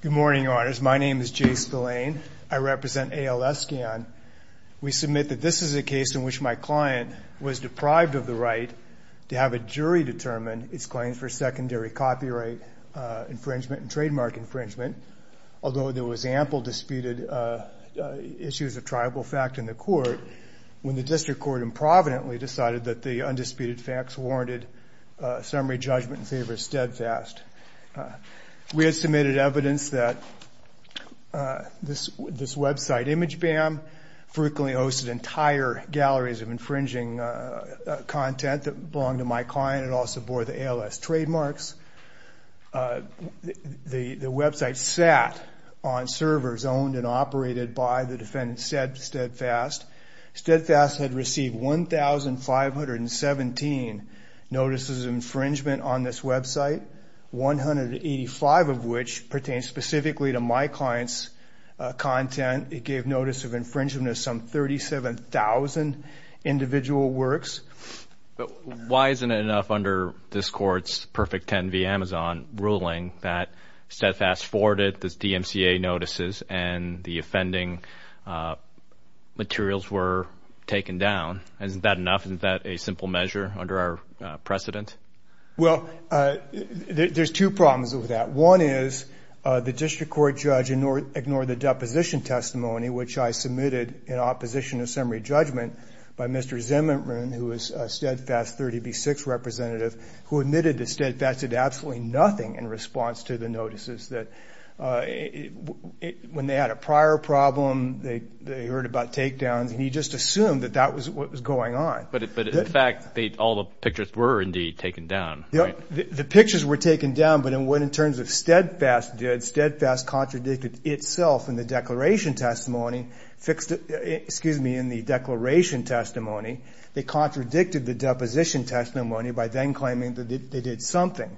Good morning, Your Honors. My name is Jay Spillane. I represent ALS Scan. We submit that this is a case in which my client was deprived of the right to have a jury determine its claims for secondary copyright infringement and trademark infringement, although there was ample disputed issues of tribal fact in the court when the district court improvidently decided that the undisputed facts warranted summary judgment in favor of Steadfast. We had submitted evidence that this website, ImageBam, frequently hosted entire galleries of infringing content that belonged to my client. It also bore the ALS trademarks. The website sat on servers owned and operated by the defendant, Steadfast. Steadfast had received 1,517 notices of infringement on this website, 185 of which pertained specifically to my client's content. It gave notice of infringement of some 37,000 individual works. Why isn't it enough under this Court's Perfect Ten v. Amazon ruling that Steadfast forwarded the DMCA notices and the offending materials were taken down? Isn't that enough? Isn't that a simple measure under our precedent? Well, there's two problems with that. One is the district court judge ignored the deposition testimony, which I submitted in opposition of summary judgment by Mr. Zimmerman, who was a Steadfast 30B6 representative, who admitted that Steadfast did absolutely nothing in response to the notices. When they had a prior problem, they heard about takedowns, and he just assumed that that was what was going on. But in fact, all the pictures were indeed taken down. The pictures were taken down, but in terms of what Steadfast did, Steadfast contradicted itself in the declaration testimony. They contradicted the deposition testimony by then claiming that they did something.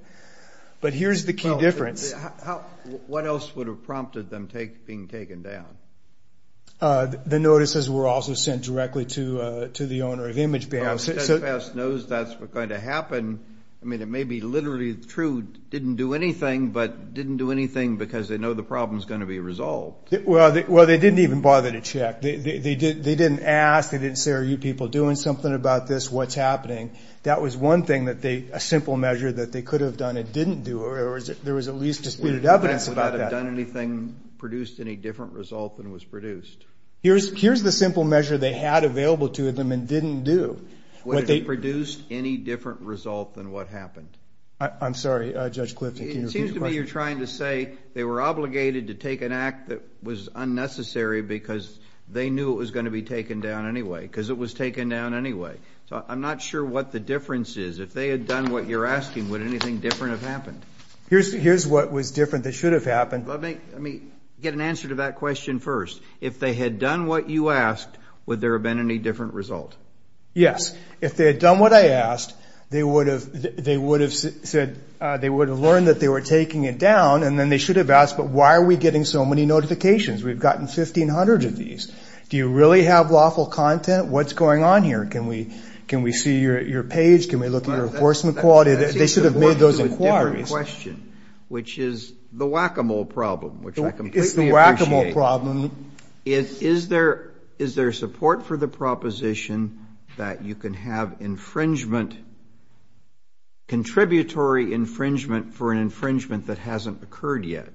But here's the key difference. What else would have prompted them being taken down? The notices were also sent directly to the owner of Image Bank. So Steadfast knows that's what's going to happen. I mean, it may be literally true, didn't do anything, but didn't do anything because they know the problem is going to be resolved. Well, they didn't even bother to check. They didn't ask. They didn't say, are you people doing something about this? What's happening? That was one thing that they, a simple measure that they could have done and didn't do. There was at least disputed evidence about that. Would anything produced any different result than was produced? Here's the simple measure they had available to them and didn't do. Would it have produced any different result than what happened? I'm sorry, Judge Clifton, can you repeat your question? It seems to me you're trying to say they were obligated to take an act that was unnecessary because they knew it was going to be taken down anyway, because it was taken down anyway. So I'm not sure what the difference is. If they had done what you're asking, would anything different have happened? Here's what was different that should have happened. Let me get an answer to that question first. If they had done what you asked, would there have been any different result? Yes. If they had done what I asked, they would have said, they would have learned that they were taking it down, and then they should have asked, but why are we getting so many notifications? We've gotten 1,500 of these. Do you really have lawful content? What's going on here? Can we see your page? Can we look at your enforcement quality? They should have made those inquiries. Let me ask you a different question, which is the whack-a-mole problem, which I completely It's the whack-a-mole problem. Is there support for the proposition that you can have infringement, contributory infringement for an infringement that hasn't occurred yet?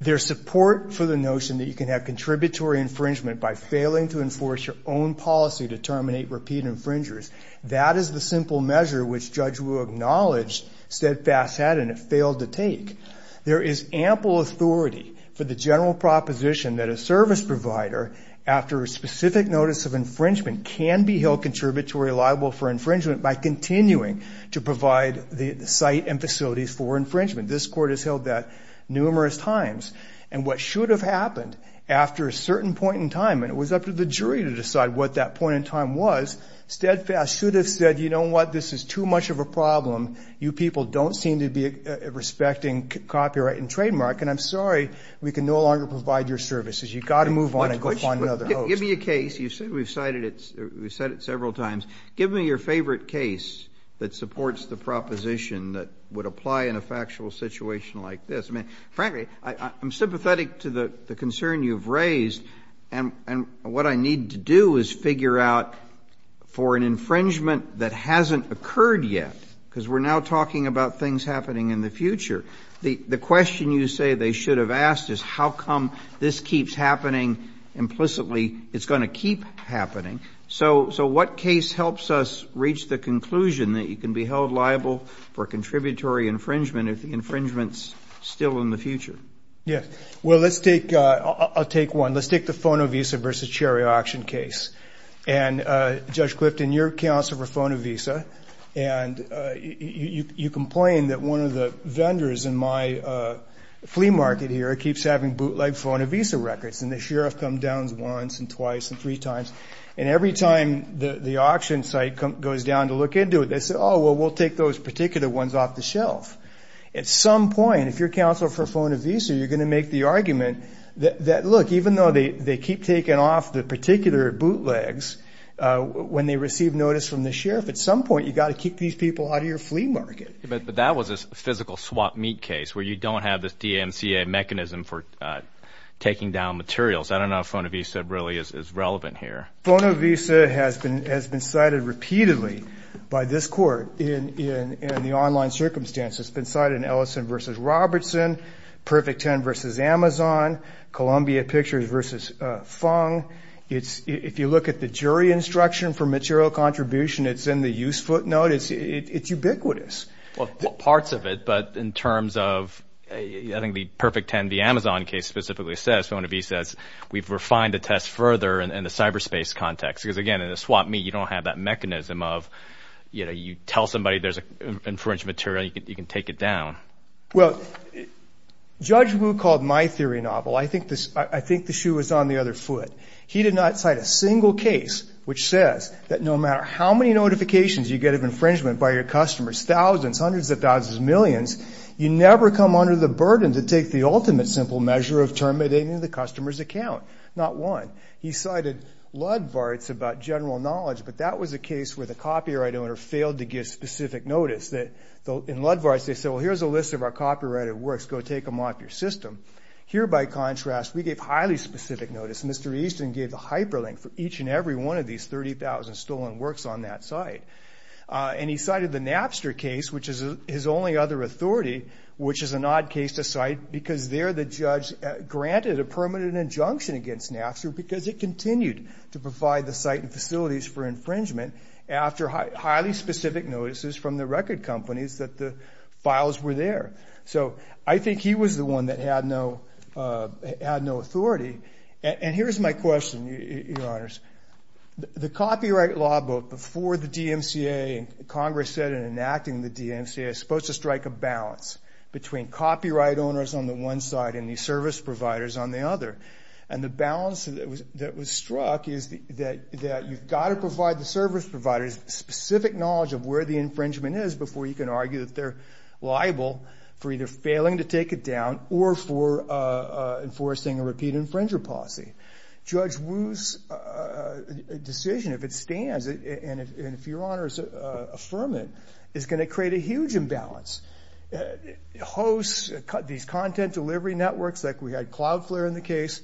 There's support for the notion that you can have contributory infringement by failing to enforce your own policy to terminate repeat infringers. That is the simple measure which Judge Wu acknowledged Steadfast had, and it failed to take. There is ample authority for the general proposition that a service provider, after a specific notice of infringement, can be held contributory liable for infringement by continuing to provide the site and facilities for infringement. This Court has held that numerous times. What should have happened after a certain point in time, and it was up to the jury to decide what that point in time was, Steadfast should have said, you know what, this is too much of a problem. You people don't seem to be respecting copyright and trademark, and I'm sorry, we can no longer provide your services. You've got to move on and go find another host. Give me a case. You said we've cited it. We've said it several times. Give me your favorite case that supports the proposition that would apply in a factual situation like this. I mean, frankly, I'm sympathetic to the concern you've raised, and what I need to do is figure out for an infringement that hasn't occurred yet, because we're now talking about things happening in the future, the question you say they should have asked is how come this keeps happening implicitly, it's going to keep happening. So what case helps us reach the conclusion that you can be held liable for contributory infringement if the infringement is still in the future? Yes. Well, let's take, I'll take one. Let's take the FonoVisa versus Cherry Auction case. And Judge Clifton, you're counsel for FonoVisa, and you complain that one of the vendors in my flea market here keeps having bootleg FonoVisa records, and the sheriff comes down once and twice and three times, and every time the auction site goes down to look into it, they say, oh, well, we'll take those particular ones off the shelf. At some point, if you're counsel for FonoVisa, you're going to make the argument that, look, even though they keep taking off the particular bootlegs when they receive notice from the sheriff, at some point you've got to kick these people out of your flea market. But that was a physical swap meat case where you don't have this DMCA mechanism for taking down materials. I don't know if FonoVisa really is relevant here. FonoVisa has been cited repeatedly by this court in the online circumstances. It's been Perfect Ten versus Amazon, Columbia Pictures versus Fung. If you look at the jury instruction for material contribution, it's in the use footnote. It's ubiquitous. Well, parts of it, but in terms of, I think the Perfect Ten, the Amazon case specifically says, FonoVisa says, we've refined the test further in the cyberspace context. Because again, in a swap meat, you don't have that mechanism of, you know, you tell somebody there's an infringed material, you can take it down. Well, Judge Wu called my theory novel, I think the shoe was on the other foot. He did not cite a single case which says that no matter how many notifications you get of infringement by your customers, thousands, hundreds of thousands, millions, you never come under the burden to take the ultimate simple measure of terminating the customer's account. Not one. He cited Ludvarts about general knowledge, but that was a case where the copyright owner failed to give specific notice. In Ludvarts, they said, well, here's a list of our copyrighted works, go take them off your system. Here, by contrast, we gave highly specific notice. Mr. Easton gave the hyperlink for each and every one of these 30,000 stolen works on that site. And he cited the Napster case, which is his only other authority, which is an odd case to cite, because there the judge granted a permanent injunction against Napster because it continued to provide the site and facilities for infringement after highly specific notices from the record companies that the files were there. So, I think he was the one that had no authority. And here's my question, Your Honors. The copyright law book before the DMCA, Congress said in enacting the DMCA, is supposed to strike a balance between copyright owners on the one side and the service providers on the other. And the balance that was struck is that you've got to provide the service providers specific knowledge of where the infringement is before you can argue that they're liable for either failing to take it down or for enforcing a repeat infringer policy. Judge Wu's decision, if it stands, and if Your Honors affirm it, is going to create a huge imbalance. Hosts, these content delivery networks, like we had Cloudflare in the case,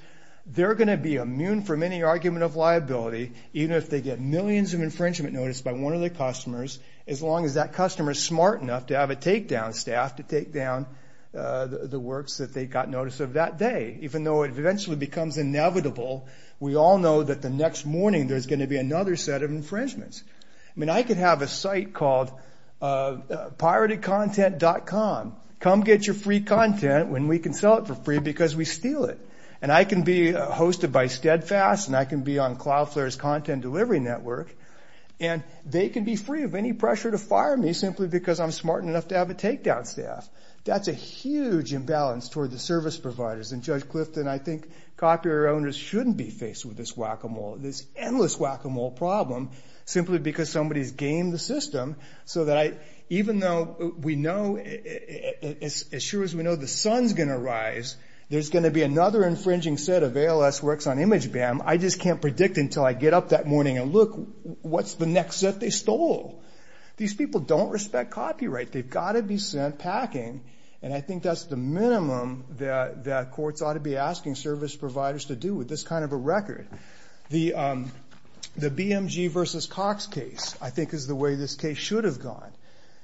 they're going to be immune from any argument of liability, even if they get millions of infringement notice by one of their customers, as long as that customer is smart enough to have a takedown staff to take down the works that they got notice of that day. Even though it eventually becomes inevitable, we all know that the next morning there's going to be another set of infringements. I could have a site called piratedcontent.com. Come get your free content when we can sell it for free because we steal it. And I can be hosted by Steadfast, and I can be on Cloudflare's content delivery network, and they can be free of any pressure to fire me simply because I'm smart enough to have a takedown staff. That's a huge imbalance toward the service providers. And Judge Clifton, I think copyright owners shouldn't be faced with this whack-a-mole, this endless whack-a-mole problem, simply because somebody's gamed the system so that even though we know, as sure as we know, the sun's going to rise, there's going to be another infringing set of ALS works on ImageBam. I just can't predict until I get up that morning and look what's the next set they stole. These people don't respect copyright. They've got to be sent packing, and I think that's the minimum that courts ought to be asking service providers to do with this kind of a record. The BMG v. Cox case, I think, is the way this case should have gone.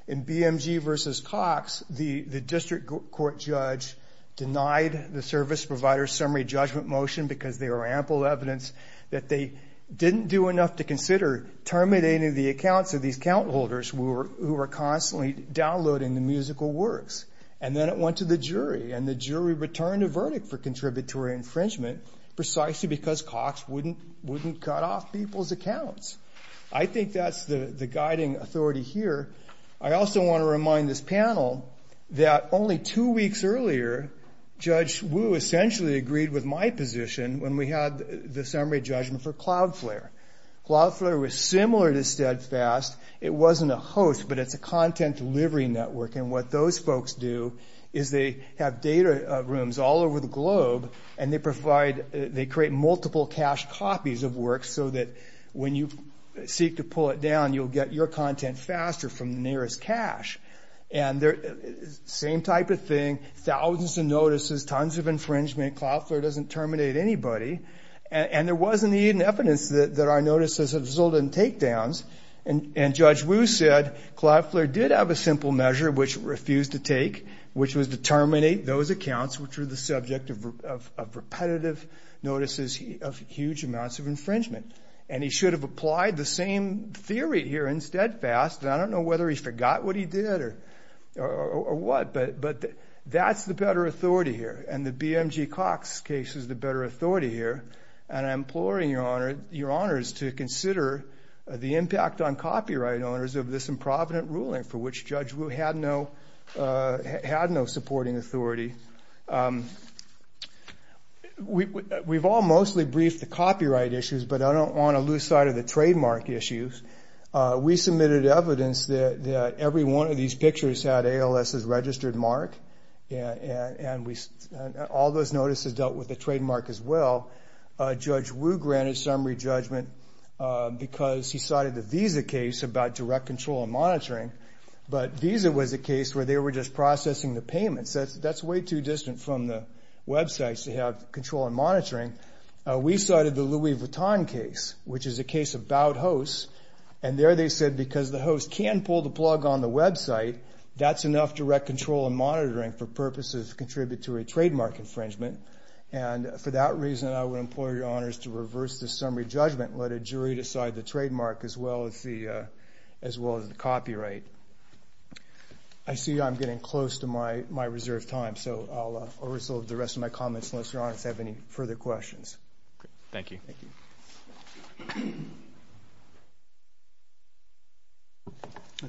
In BMG v. Cox, the district court judge denied the service provider's summary judgment motion because there were ample evidence that they didn't do enough to consider terminating the accounts of these account holders who were constantly downloading the musical works. And then it went to the jury, and the jury returned a verdict for contributory infringement precisely because Cox wouldn't cut off people's accounts. I think that's the guiding authority here. I also want to remind this panel that only two weeks earlier, Judge Wu essentially agreed with my position when we had the summary judgment for CloudFlare. CloudFlare was similar to Steadfast. It wasn't a host, but it's a content delivery network, and what those folks do is they have data rooms all over the globe, and they create multiple cached copies of works so that when you seek to pull it down, you'll get your content faster from the nearest cache. Same type of thing, thousands of notices, tons of infringement. CloudFlare doesn't terminate anybody, and there wasn't even evidence that our notices have resulted in takedowns, and Judge Wu said CloudFlare did have a simple measure which it refused to take, which was to terminate those accounts which were the subject of repetitive notices of huge amounts of infringement. And he should have applied the same theory here in Steadfast, and I don't know whether he forgot what he did or what, but that's the better authority here, and the BMG Cox case is the better authority here, and I'm imploring your honors to consider the impact on copyright owners of this improvident ruling for which Judge Wu had no supporting authority. We've all mostly briefed the copyright issues, but I don't want to lose sight of the trademark issues. We submitted evidence that every one of these pictures had ALS's registered mark, and all those notices dealt with the trademark as well. Judge Wu granted summary judgment because he cited the Visa case about direct control and monitoring, but Visa was a case where they were just processing the payments. That's way too distant from the websites to have control and monitoring. We cited the Louis Vuitton case, which is a case about hosts, and there they said because the host can pull the plug on the website, that's enough direct control and monitoring for purposes to contribute to a trademark infringement, and for that reason, I would implore your honors to reverse the summary judgment. Let a jury decide the trademark as well as the copyright. I see I'm getting close to my reserved time, so I'll resolve the rest of my comments unless your honors have any further questions. Thank you.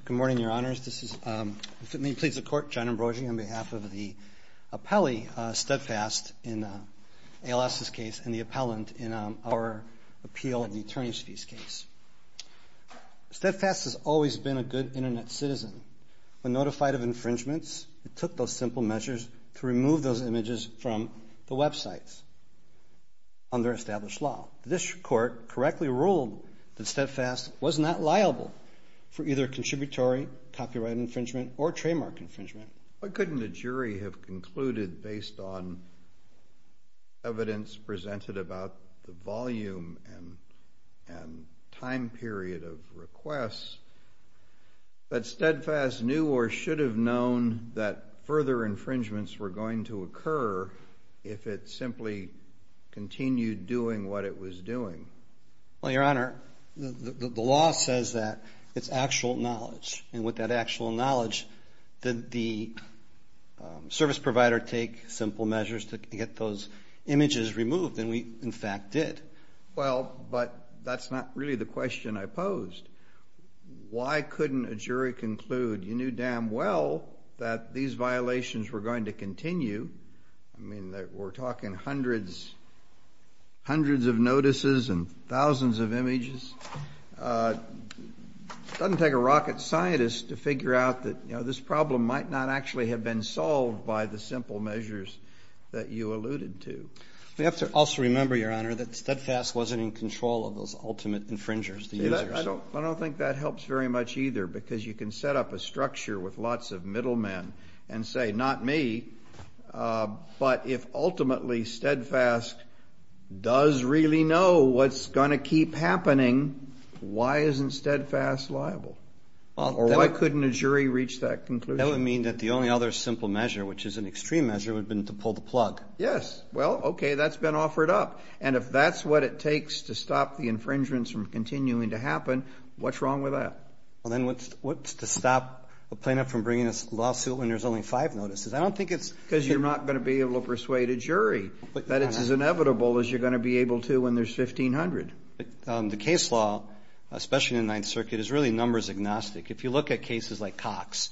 Good morning, your honors. This is, if it may please the court, John Ambrosio on behalf of the appellee, Steadfast, in ALS's case and the appellant in our appeal of the attorneys' fees case. Steadfast has always been a good internet citizen. When notified of infringements, it took those simple measures to remove those images from the websites under established law. This court correctly ruled that Steadfast was not liable for either contributory copyright infringement or trademark infringement. Why couldn't the jury have concluded based on evidence presented about the volume and time period of requests that Steadfast knew or should have known that further infringements were going to occur if it simply continued doing what it was doing? Well, your honor, the law says that it's actual knowledge, and with that actual knowledge, did the service provider take simple measures to get those images removed? And we, in fact, did. Well, but that's not really the question I posed. Why couldn't a jury conclude you knew damn well that these violations were going to continue? I mean, we're talking hundreds of notices and thousands of images. It doesn't take a rocket scientist to figure out that this problem might not actually have been solved by the simple measures that you alluded to. We have to also remember, your honor, that Steadfast wasn't in control of those ultimate infringers. I don't think that helps very much either, because you can set up a structure with ultimately Steadfast does really know what's going to keep happening. Why isn't Steadfast liable? Why couldn't a jury reach that conclusion? That would mean that the only other simple measure, which is an extreme measure, would have been to pull the plug. Yes. Well, okay, that's been offered up. And if that's what it takes to stop the infringements from continuing to happen, what's wrong with that? Well, then what's to stop a plaintiff from bringing a lawsuit when there's only five notices? I don't think it's... Because you're not going to be able to persuade a jury that it's as inevitable as you're going to be able to when there's 1,500. The case law, especially in the Ninth Circuit, is really numbers agnostic. If you look at cases like Cox,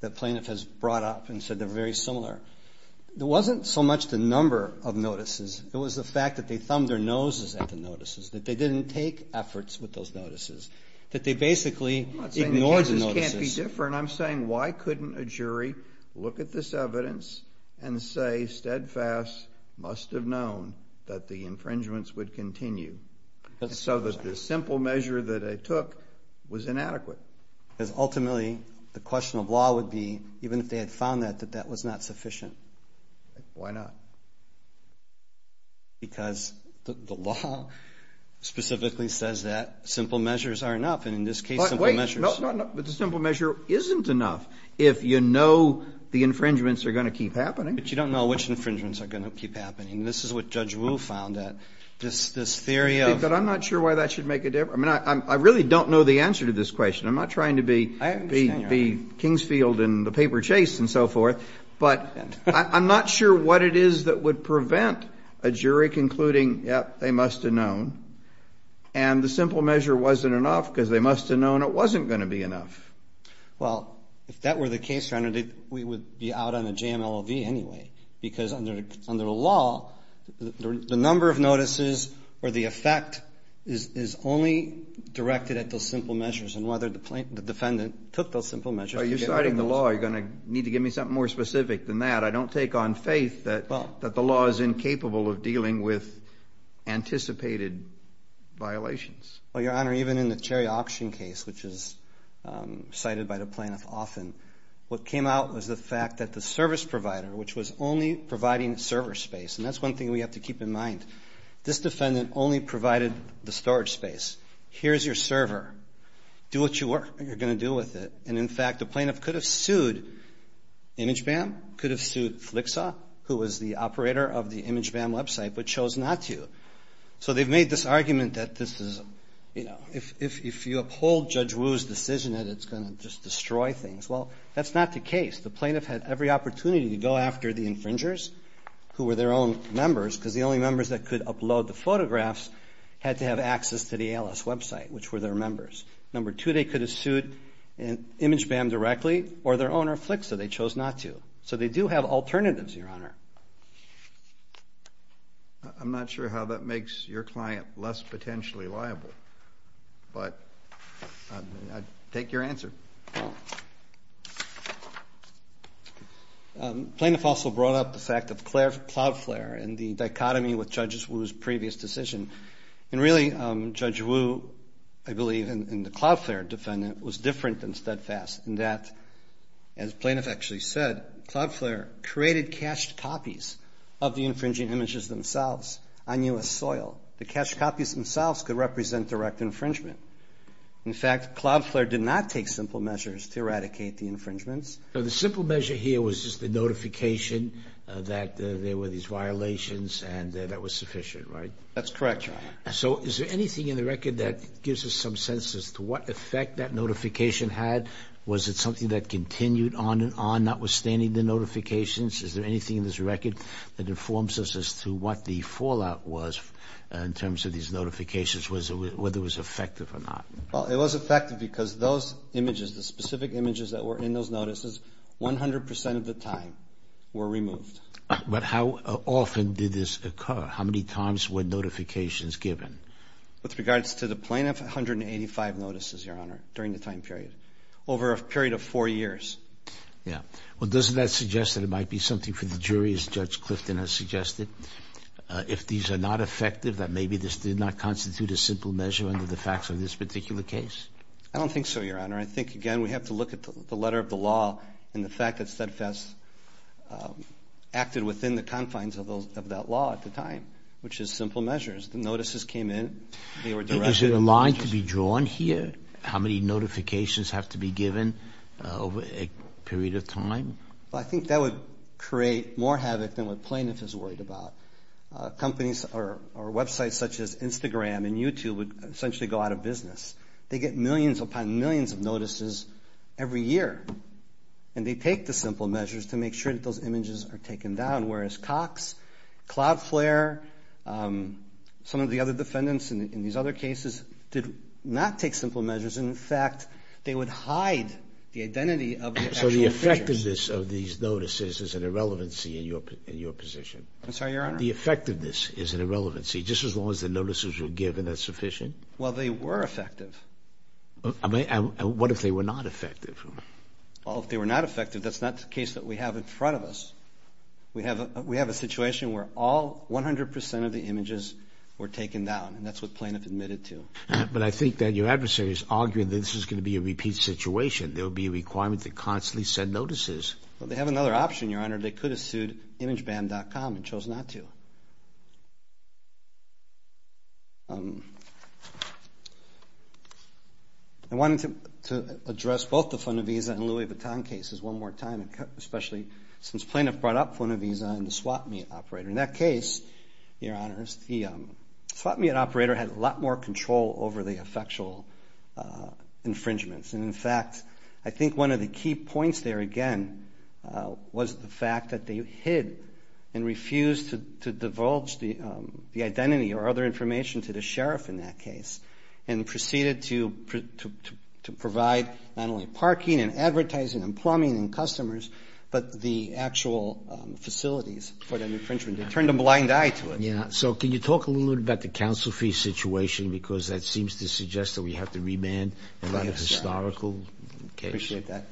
the plaintiff has brought up and said they're very similar. There wasn't so much the number of notices. It was the fact that they thumbed their noses at the notices, that they didn't take efforts with those notices, that they basically ignored the notices. I'm not saying the jury, look at this evidence and say, steadfast, must have known that the infringements would continue. So that the simple measure that they took was inadequate. Because ultimately, the question of law would be, even if they had found that, that that was not sufficient. Why not? Because the law specifically says that simple measures are enough. And in this case, simple measure isn't enough if you know the infringements are going to keep happening. But you don't know which infringements are going to keep happening. This is what Judge Wu found that this theory of... But I'm not sure why that should make a difference. I mean, I really don't know the answer to this question. I'm not trying to be... I understand your argument. ...Kingsfield in the paper chase and so forth. But I'm not sure what it is that would prevent a jury concluding, yep, they must have known. And the simple measure wasn't enough because they must have known it wasn't going to be enough. Well, if that were the case, Your Honor, we would be out on a JMLOV anyway. Because under the law, the number of notices or the effect is only directed at those simple measures and whether the defendant took those simple measures... Are you citing the law? Are you going to need to give me something more specific than that? I don't take on faith that the law is incapable of dealing with anticipated violations. Well, Your Honor, even in the cherry auction case, which is cited by the plaintiff often, what came out was the fact that the service provider, which was only providing server space, and that's one thing we have to keep in mind, this defendant only provided the storage space. Here's your server. Do what you're going to do with it. And in fact, the plaintiff could have sued ImageBam, could have sued Flicksaw, who was the operator of the ImageBam website, but chose not to. So they've made this argument that if you uphold Judge Wu's decision that it's going to just destroy things. Well, that's not the case. The plaintiff had every opportunity to go after the infringers, who were their own members, because the only members that could upload the photographs had to have access to the ALS website, which were their members. Number two, they could have sued ImageBam directly or their owner, Flicksaw, they chose not to. So they do have alternatives, Your Honor. I'm not sure how that makes your client less potentially liable, but I'd take your answer. Plaintiff also brought up the fact of CloudFlare and the dichotomy with Judge Wu's previous decision. And really, Judge Wu, I believe, and the CloudFlare defendant, was different and steadfast in that, as plaintiff actually said, CloudFlare created cached copies of the infringing images themselves on U.S. soil. The cached copies themselves could represent direct infringement. In fact, CloudFlare did not take simple measures to eradicate the infringements. So the simple measure here was just the notification that there were these violations and that was sufficient, right? That's correct, Your Honor. So is there anything in the record that gives us some sense as to what effect that notification had was it something that continued on and on notwithstanding the notifications? Is there anything in this record that informs us as to what the fallout was in terms of these notifications, whether it was effective or not? Well, it was effective because those images, the specific images that were in those notices, 100% of the time were removed. But how often did this occur? How many times were notifications given? With regards to the plaintiff, 185 notices, Your Honor, during the time period. Over a period of four years. Yeah. Well, doesn't that suggest that it might be something for the jury, as Judge Clifton has suggested, if these are not effective, that maybe this did not constitute a simple measure under the facts of this particular case? I don't think so, Your Honor. I think, again, we have to look at the letter of the law and the fact that CEDFAS acted within the confines of that law at the time, which is simple measures. The notices came in, they were directed. Is it a line to be drawn here? How many notifications have to be given over a period of time? Well, I think that would create more havoc than what plaintiff is worried about. Companies or websites such as Instagram and YouTube would essentially go out of business. They get millions upon millions of notices every year, and they take the simple measures to make sure that those images are taken down, whereas Cox, Cloudflare, some of the other defendants in these other cases did not take simple measures. In fact, they would hide the identity of the actual pictures. So the effectiveness of these notices is an irrelevancy in your position? I'm sorry, Your Honor. The effectiveness is an irrelevancy, just as long as the notices were given as sufficient? Well, they were effective. And what if they were not effective? Well, if they were not effective, that's not the case that we have in front of us. We have a situation where all 100% of the images were taken down, and that's what plaintiff admitted to. But I think that your adversary is arguing that this is going to be a repeat situation. There will be a requirement to constantly send notices. Well, they have another option, Your Honor. They could have sued ImageBand.com and chose not to. I wanted to address both the Fonovisa and Louis Vuitton cases one more time, especially since plaintiff brought up Fonovisa and the swapmeat operator. In that case, Your Honor, the swapmeat operator had a lot more control over the effectual infringements. And in fact, I think one of the key points there, again, was the fact that they hid and refused to divulge the identity or other information to the sheriff in that case, and proceeded to provide not only parking and advertising and plumbing and customers, but the actual facilities for the infringement. They turned a blind eye to it. Yeah. So can you talk a little bit about the counsel fee situation? Because that seems to suggest that we have to remand a lot of historical cases. Appreciate that.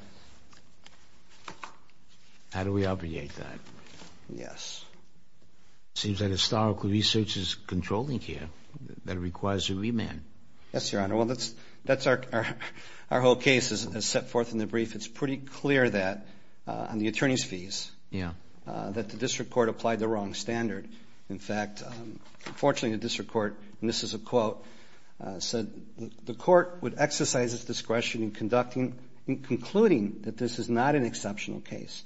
How do we obviate that? Yes. Seems that historical research is controlling here. That requires a remand. Yes, Your Honor. Well, that's our whole case is set forth in the brief. It's pretty clear that on the attorney's fees that the district court applied the wrong standard. In fact, unfortunately, the district court, and this is a quote, said the court would exercise its discretion in concluding that this is not an exceptional case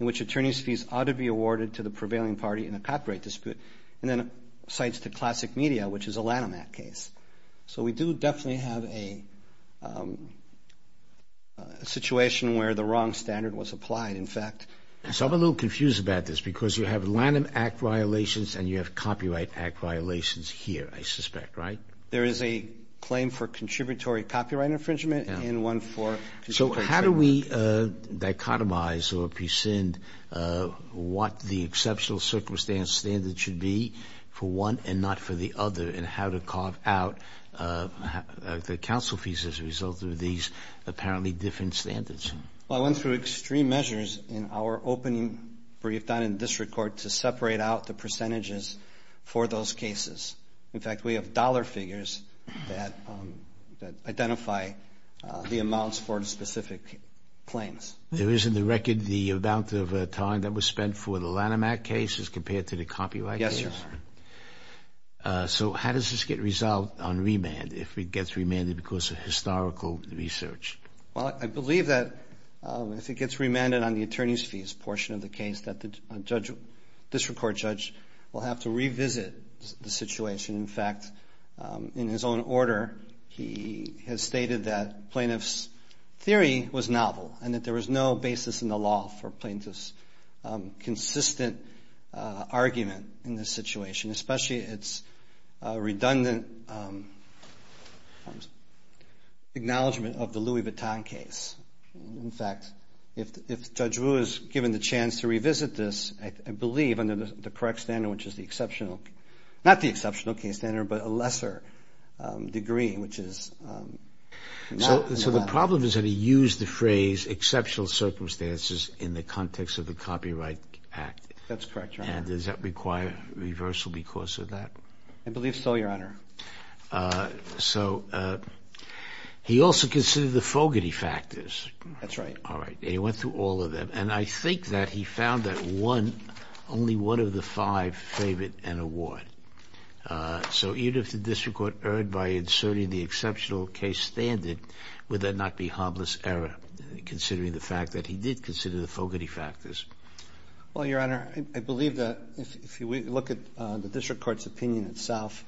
in which attorney's fees ought to be awarded to the prevailing party in a copyright dispute. And then it cites the classic media, which is a Lanham Act case. So we do definitely have a situation where the wrong standard was applied. In fact... So I'm a little confused about this because you have Lanham Act violations and you have Copyright Act violations here, I suspect, right? There is a claim for contributory copyright infringement and one for... So how do we dichotomize or prescind what the exceptional circumstance standard should be for one and not for the other and how to carve out the counsel fees as a result of these apparently different standards? Well, I went through extreme measures in our opening brief done in the district court to separate out the percentages for those cases. In fact, we have dollar figures that identify the amounts for specific claims. There is in the record the amount of time that was spent for the Lanham Act case as compared to the copyright case? Yes. So how does this get resolved on remand if it gets remanded because of historical research? Well, I believe that if it gets remanded on the attorney's fees portion of the case that the district court judge will have to revisit the situation. In fact, in his own order, he has stated that plaintiff's theory was novel and that there was no basis in the law for plaintiff's consistent argument in this situation, especially its redundant acknowledgment of the Louis Vuitton case. In fact, if Judge Wu is given the chance to revisit this, I believe under the correct standard which is the exceptional... Not the exceptional case standard but a lesser degree which is... So the problem is that he used the phrase exceptional circumstances in the context of the Copyright Act. That's correct, Your Honor. And does that require reversal because of that? I believe so, Your Honor. So he also considered the Fogarty factors. That's right. All right. And he went through all of them. And I think that he found that one, only one of the five favored an award. So even if the district court erred by inserting the exceptional case standard, would that not be harmless error considering the fact that he did consider the Fogarty factors? Well, Your Honor, I believe that if we look at the district court's opinion itself,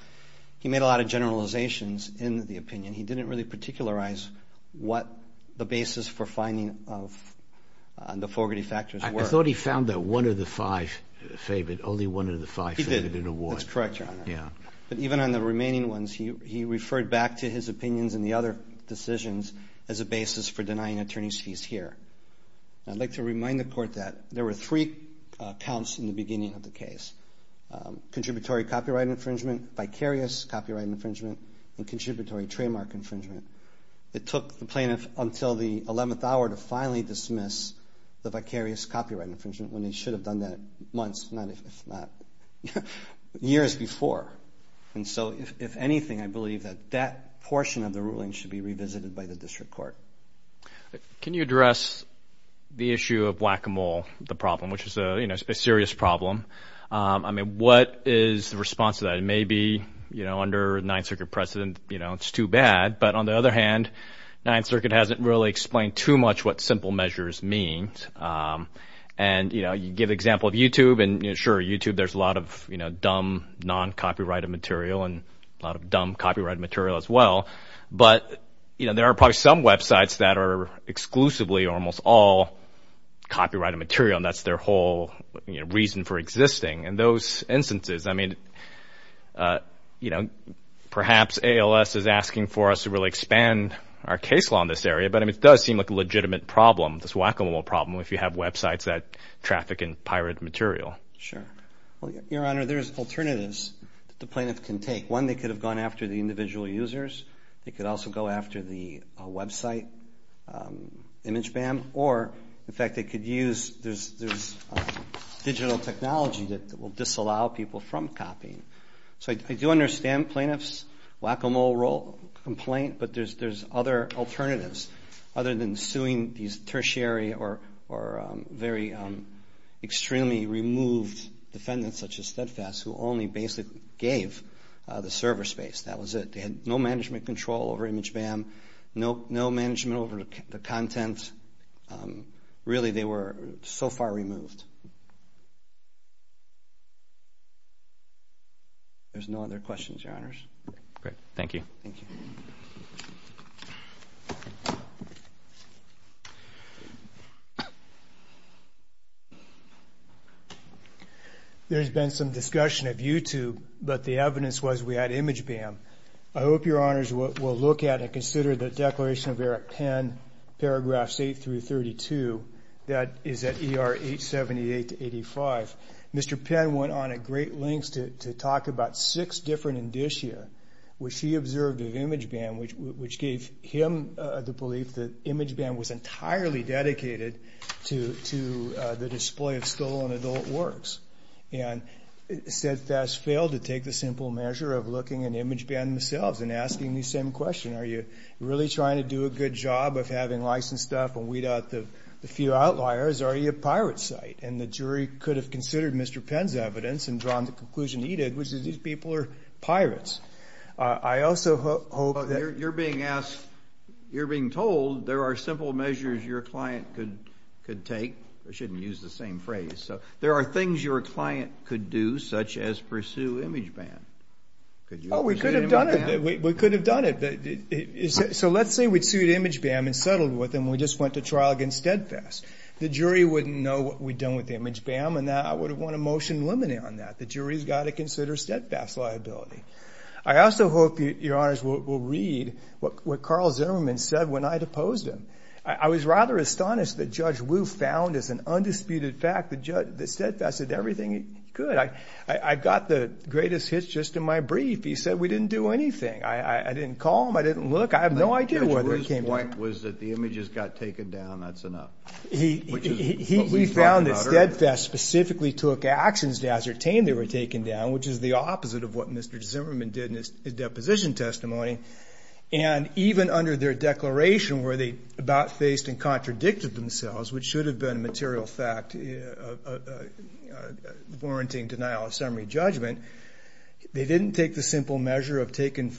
he made a lot of generalizations in the opinion. He didn't really particularize what the basis for finding of the Fogarty factors were. I thought he found that one of the five favored, only one of the five favored an award. That's correct, Your Honor. Yeah. But even on the remaining ones, he referred back to his opinions in the other decisions as a basis for denying attorney's fees here. I'd like to remind the court that there were three counts in the beginning of the case, contributory copyright infringement, vicarious copyright infringement, and contributory trademark infringement. It took the plaintiff until the 11th hour to finally dismiss the vicarious copyright infringement when they should have done that months, not if not... years before. And so, if anything, I believe that that portion of the ruling should be revisited by the district court. Can you address the issue of whack-a-mole, the problem, which is a serious problem? I mean, what is the response to that? It may be, you know, under Ninth Circuit precedent, you know, it's too bad. But on the other hand, Ninth Circuit hasn't really explained too much what simple measures means. And, you know, you give example of YouTube, and sure, YouTube, there's a lot of, you know, dumb non-copyrighted material and a lot of dumb copyrighted material as well. But, you know, there are probably some websites that are exclusively or almost all copyrighted material, and that's their whole reason for existing. And those instances, I mean, you know, perhaps ALS is asking for us to really expand our case law in this area. But, I mean, it does seem like a legitimate problem, this whack-a-mole problem, if you have websites that traffic in pirate material. Sure. Your Honor, there's alternatives that the plaintiff can take. One, they could have gone after the individual users. They could also go after the website, ImageBam. Or, in fact, they could use, there's digital technology that will disallow people from copying. So I do understand plaintiff's whack-a-mole complaint, but there's other alternatives. Other than suing these tertiary or very extremely removed defendants, such as Steadfast, who only basically gave the server space. That was it. They had no management control over ImageBam, no management over the content. Really, they were so far removed. There's no other questions, Your Honors. Great. Thank you. Thank you. Thank you. There's been some discussion of YouTube, but the evidence was we had ImageBam. I hope Your Honors will look at and consider the declaration of Eric Penn, paragraphs 8 through 32, that is at ER 878 to 85. Mr. Penn went on at great lengths to talk about six different indicia, which he observed of ImageBam, which gave him the belief that ImageBam was entirely dedicated to the display of stolen adult works. And Steadfast failed to take the simple measure of looking at ImageBam themselves and asking the same question. Are you really trying to do a good job of having licensed stuff and weed out the few outliers? Are you a pirate site? And the jury could have considered Mr. Penn's evidence and drawn the conclusion he did, which is these people are pirates. I also hope that... You're being asked, you're being told there are simple measures your client could take. I shouldn't use the same phrase. So there are things your client could do, such as pursue ImageBam. Oh, we could have done it. We could have done it. So let's say we'd sued ImageBam and settled with them. We just went to trial against Steadfast. The jury wouldn't know what we'd done with ImageBam, and I would have won a motion limiting on that. The jury's got to consider Steadfast's liability. I also hope, Your Honors, we'll read what Carl Zimmerman said when I deposed him. I was rather astonished that Judge Wu found as an undisputed fact that Steadfast did everything he could. I got the greatest hits just in my brief. He said we didn't do anything. I didn't call him. I didn't look. I have no idea whether he came down. But Judge Wu's point was that the images got taken down. That's enough. We found that Steadfast specifically took actions to ascertain they were taken down, which is the opposite of what Mr. Zimmerman did in his deposition testimony. And even under their declaration, where they about faced and contradicted themselves, which should have been a material fact, a warranting denial of summary judgment, they didn't take the simple measure of taking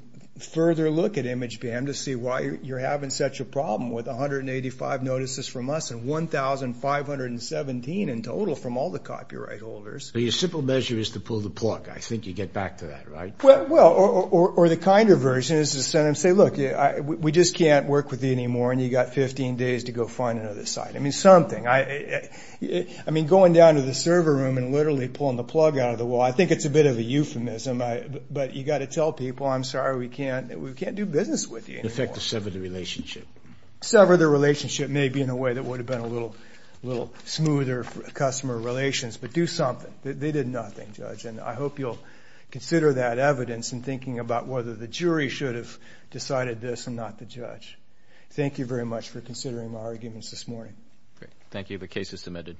further look at ImageBam to see why you're having such a problem with 185 notices from us and 1,517 in total from all the copyright holders. Your simple measure is to pull the plug. I think you get back to that, right? Well, or the kinder version is to send them, say, look, we just can't work with you anymore, and you got 15 days to go find another site. I mean, something. I mean, going down to the server room and literally pulling the plug out of the wall, I think it's a bit of a euphemism. But you got to tell people, I'm sorry, we can't do business with you anymore. In effect, to sever the relationship. Sever the relationship, maybe in a way that would have been a little smoother for customer relations, but do something. They did nothing, Judge. And I hope you'll consider that evidence in thinking about whether the jury should have decided this and not the judge. Thank you very much for considering my arguments this morning. Great. Thank you. The case is submitted.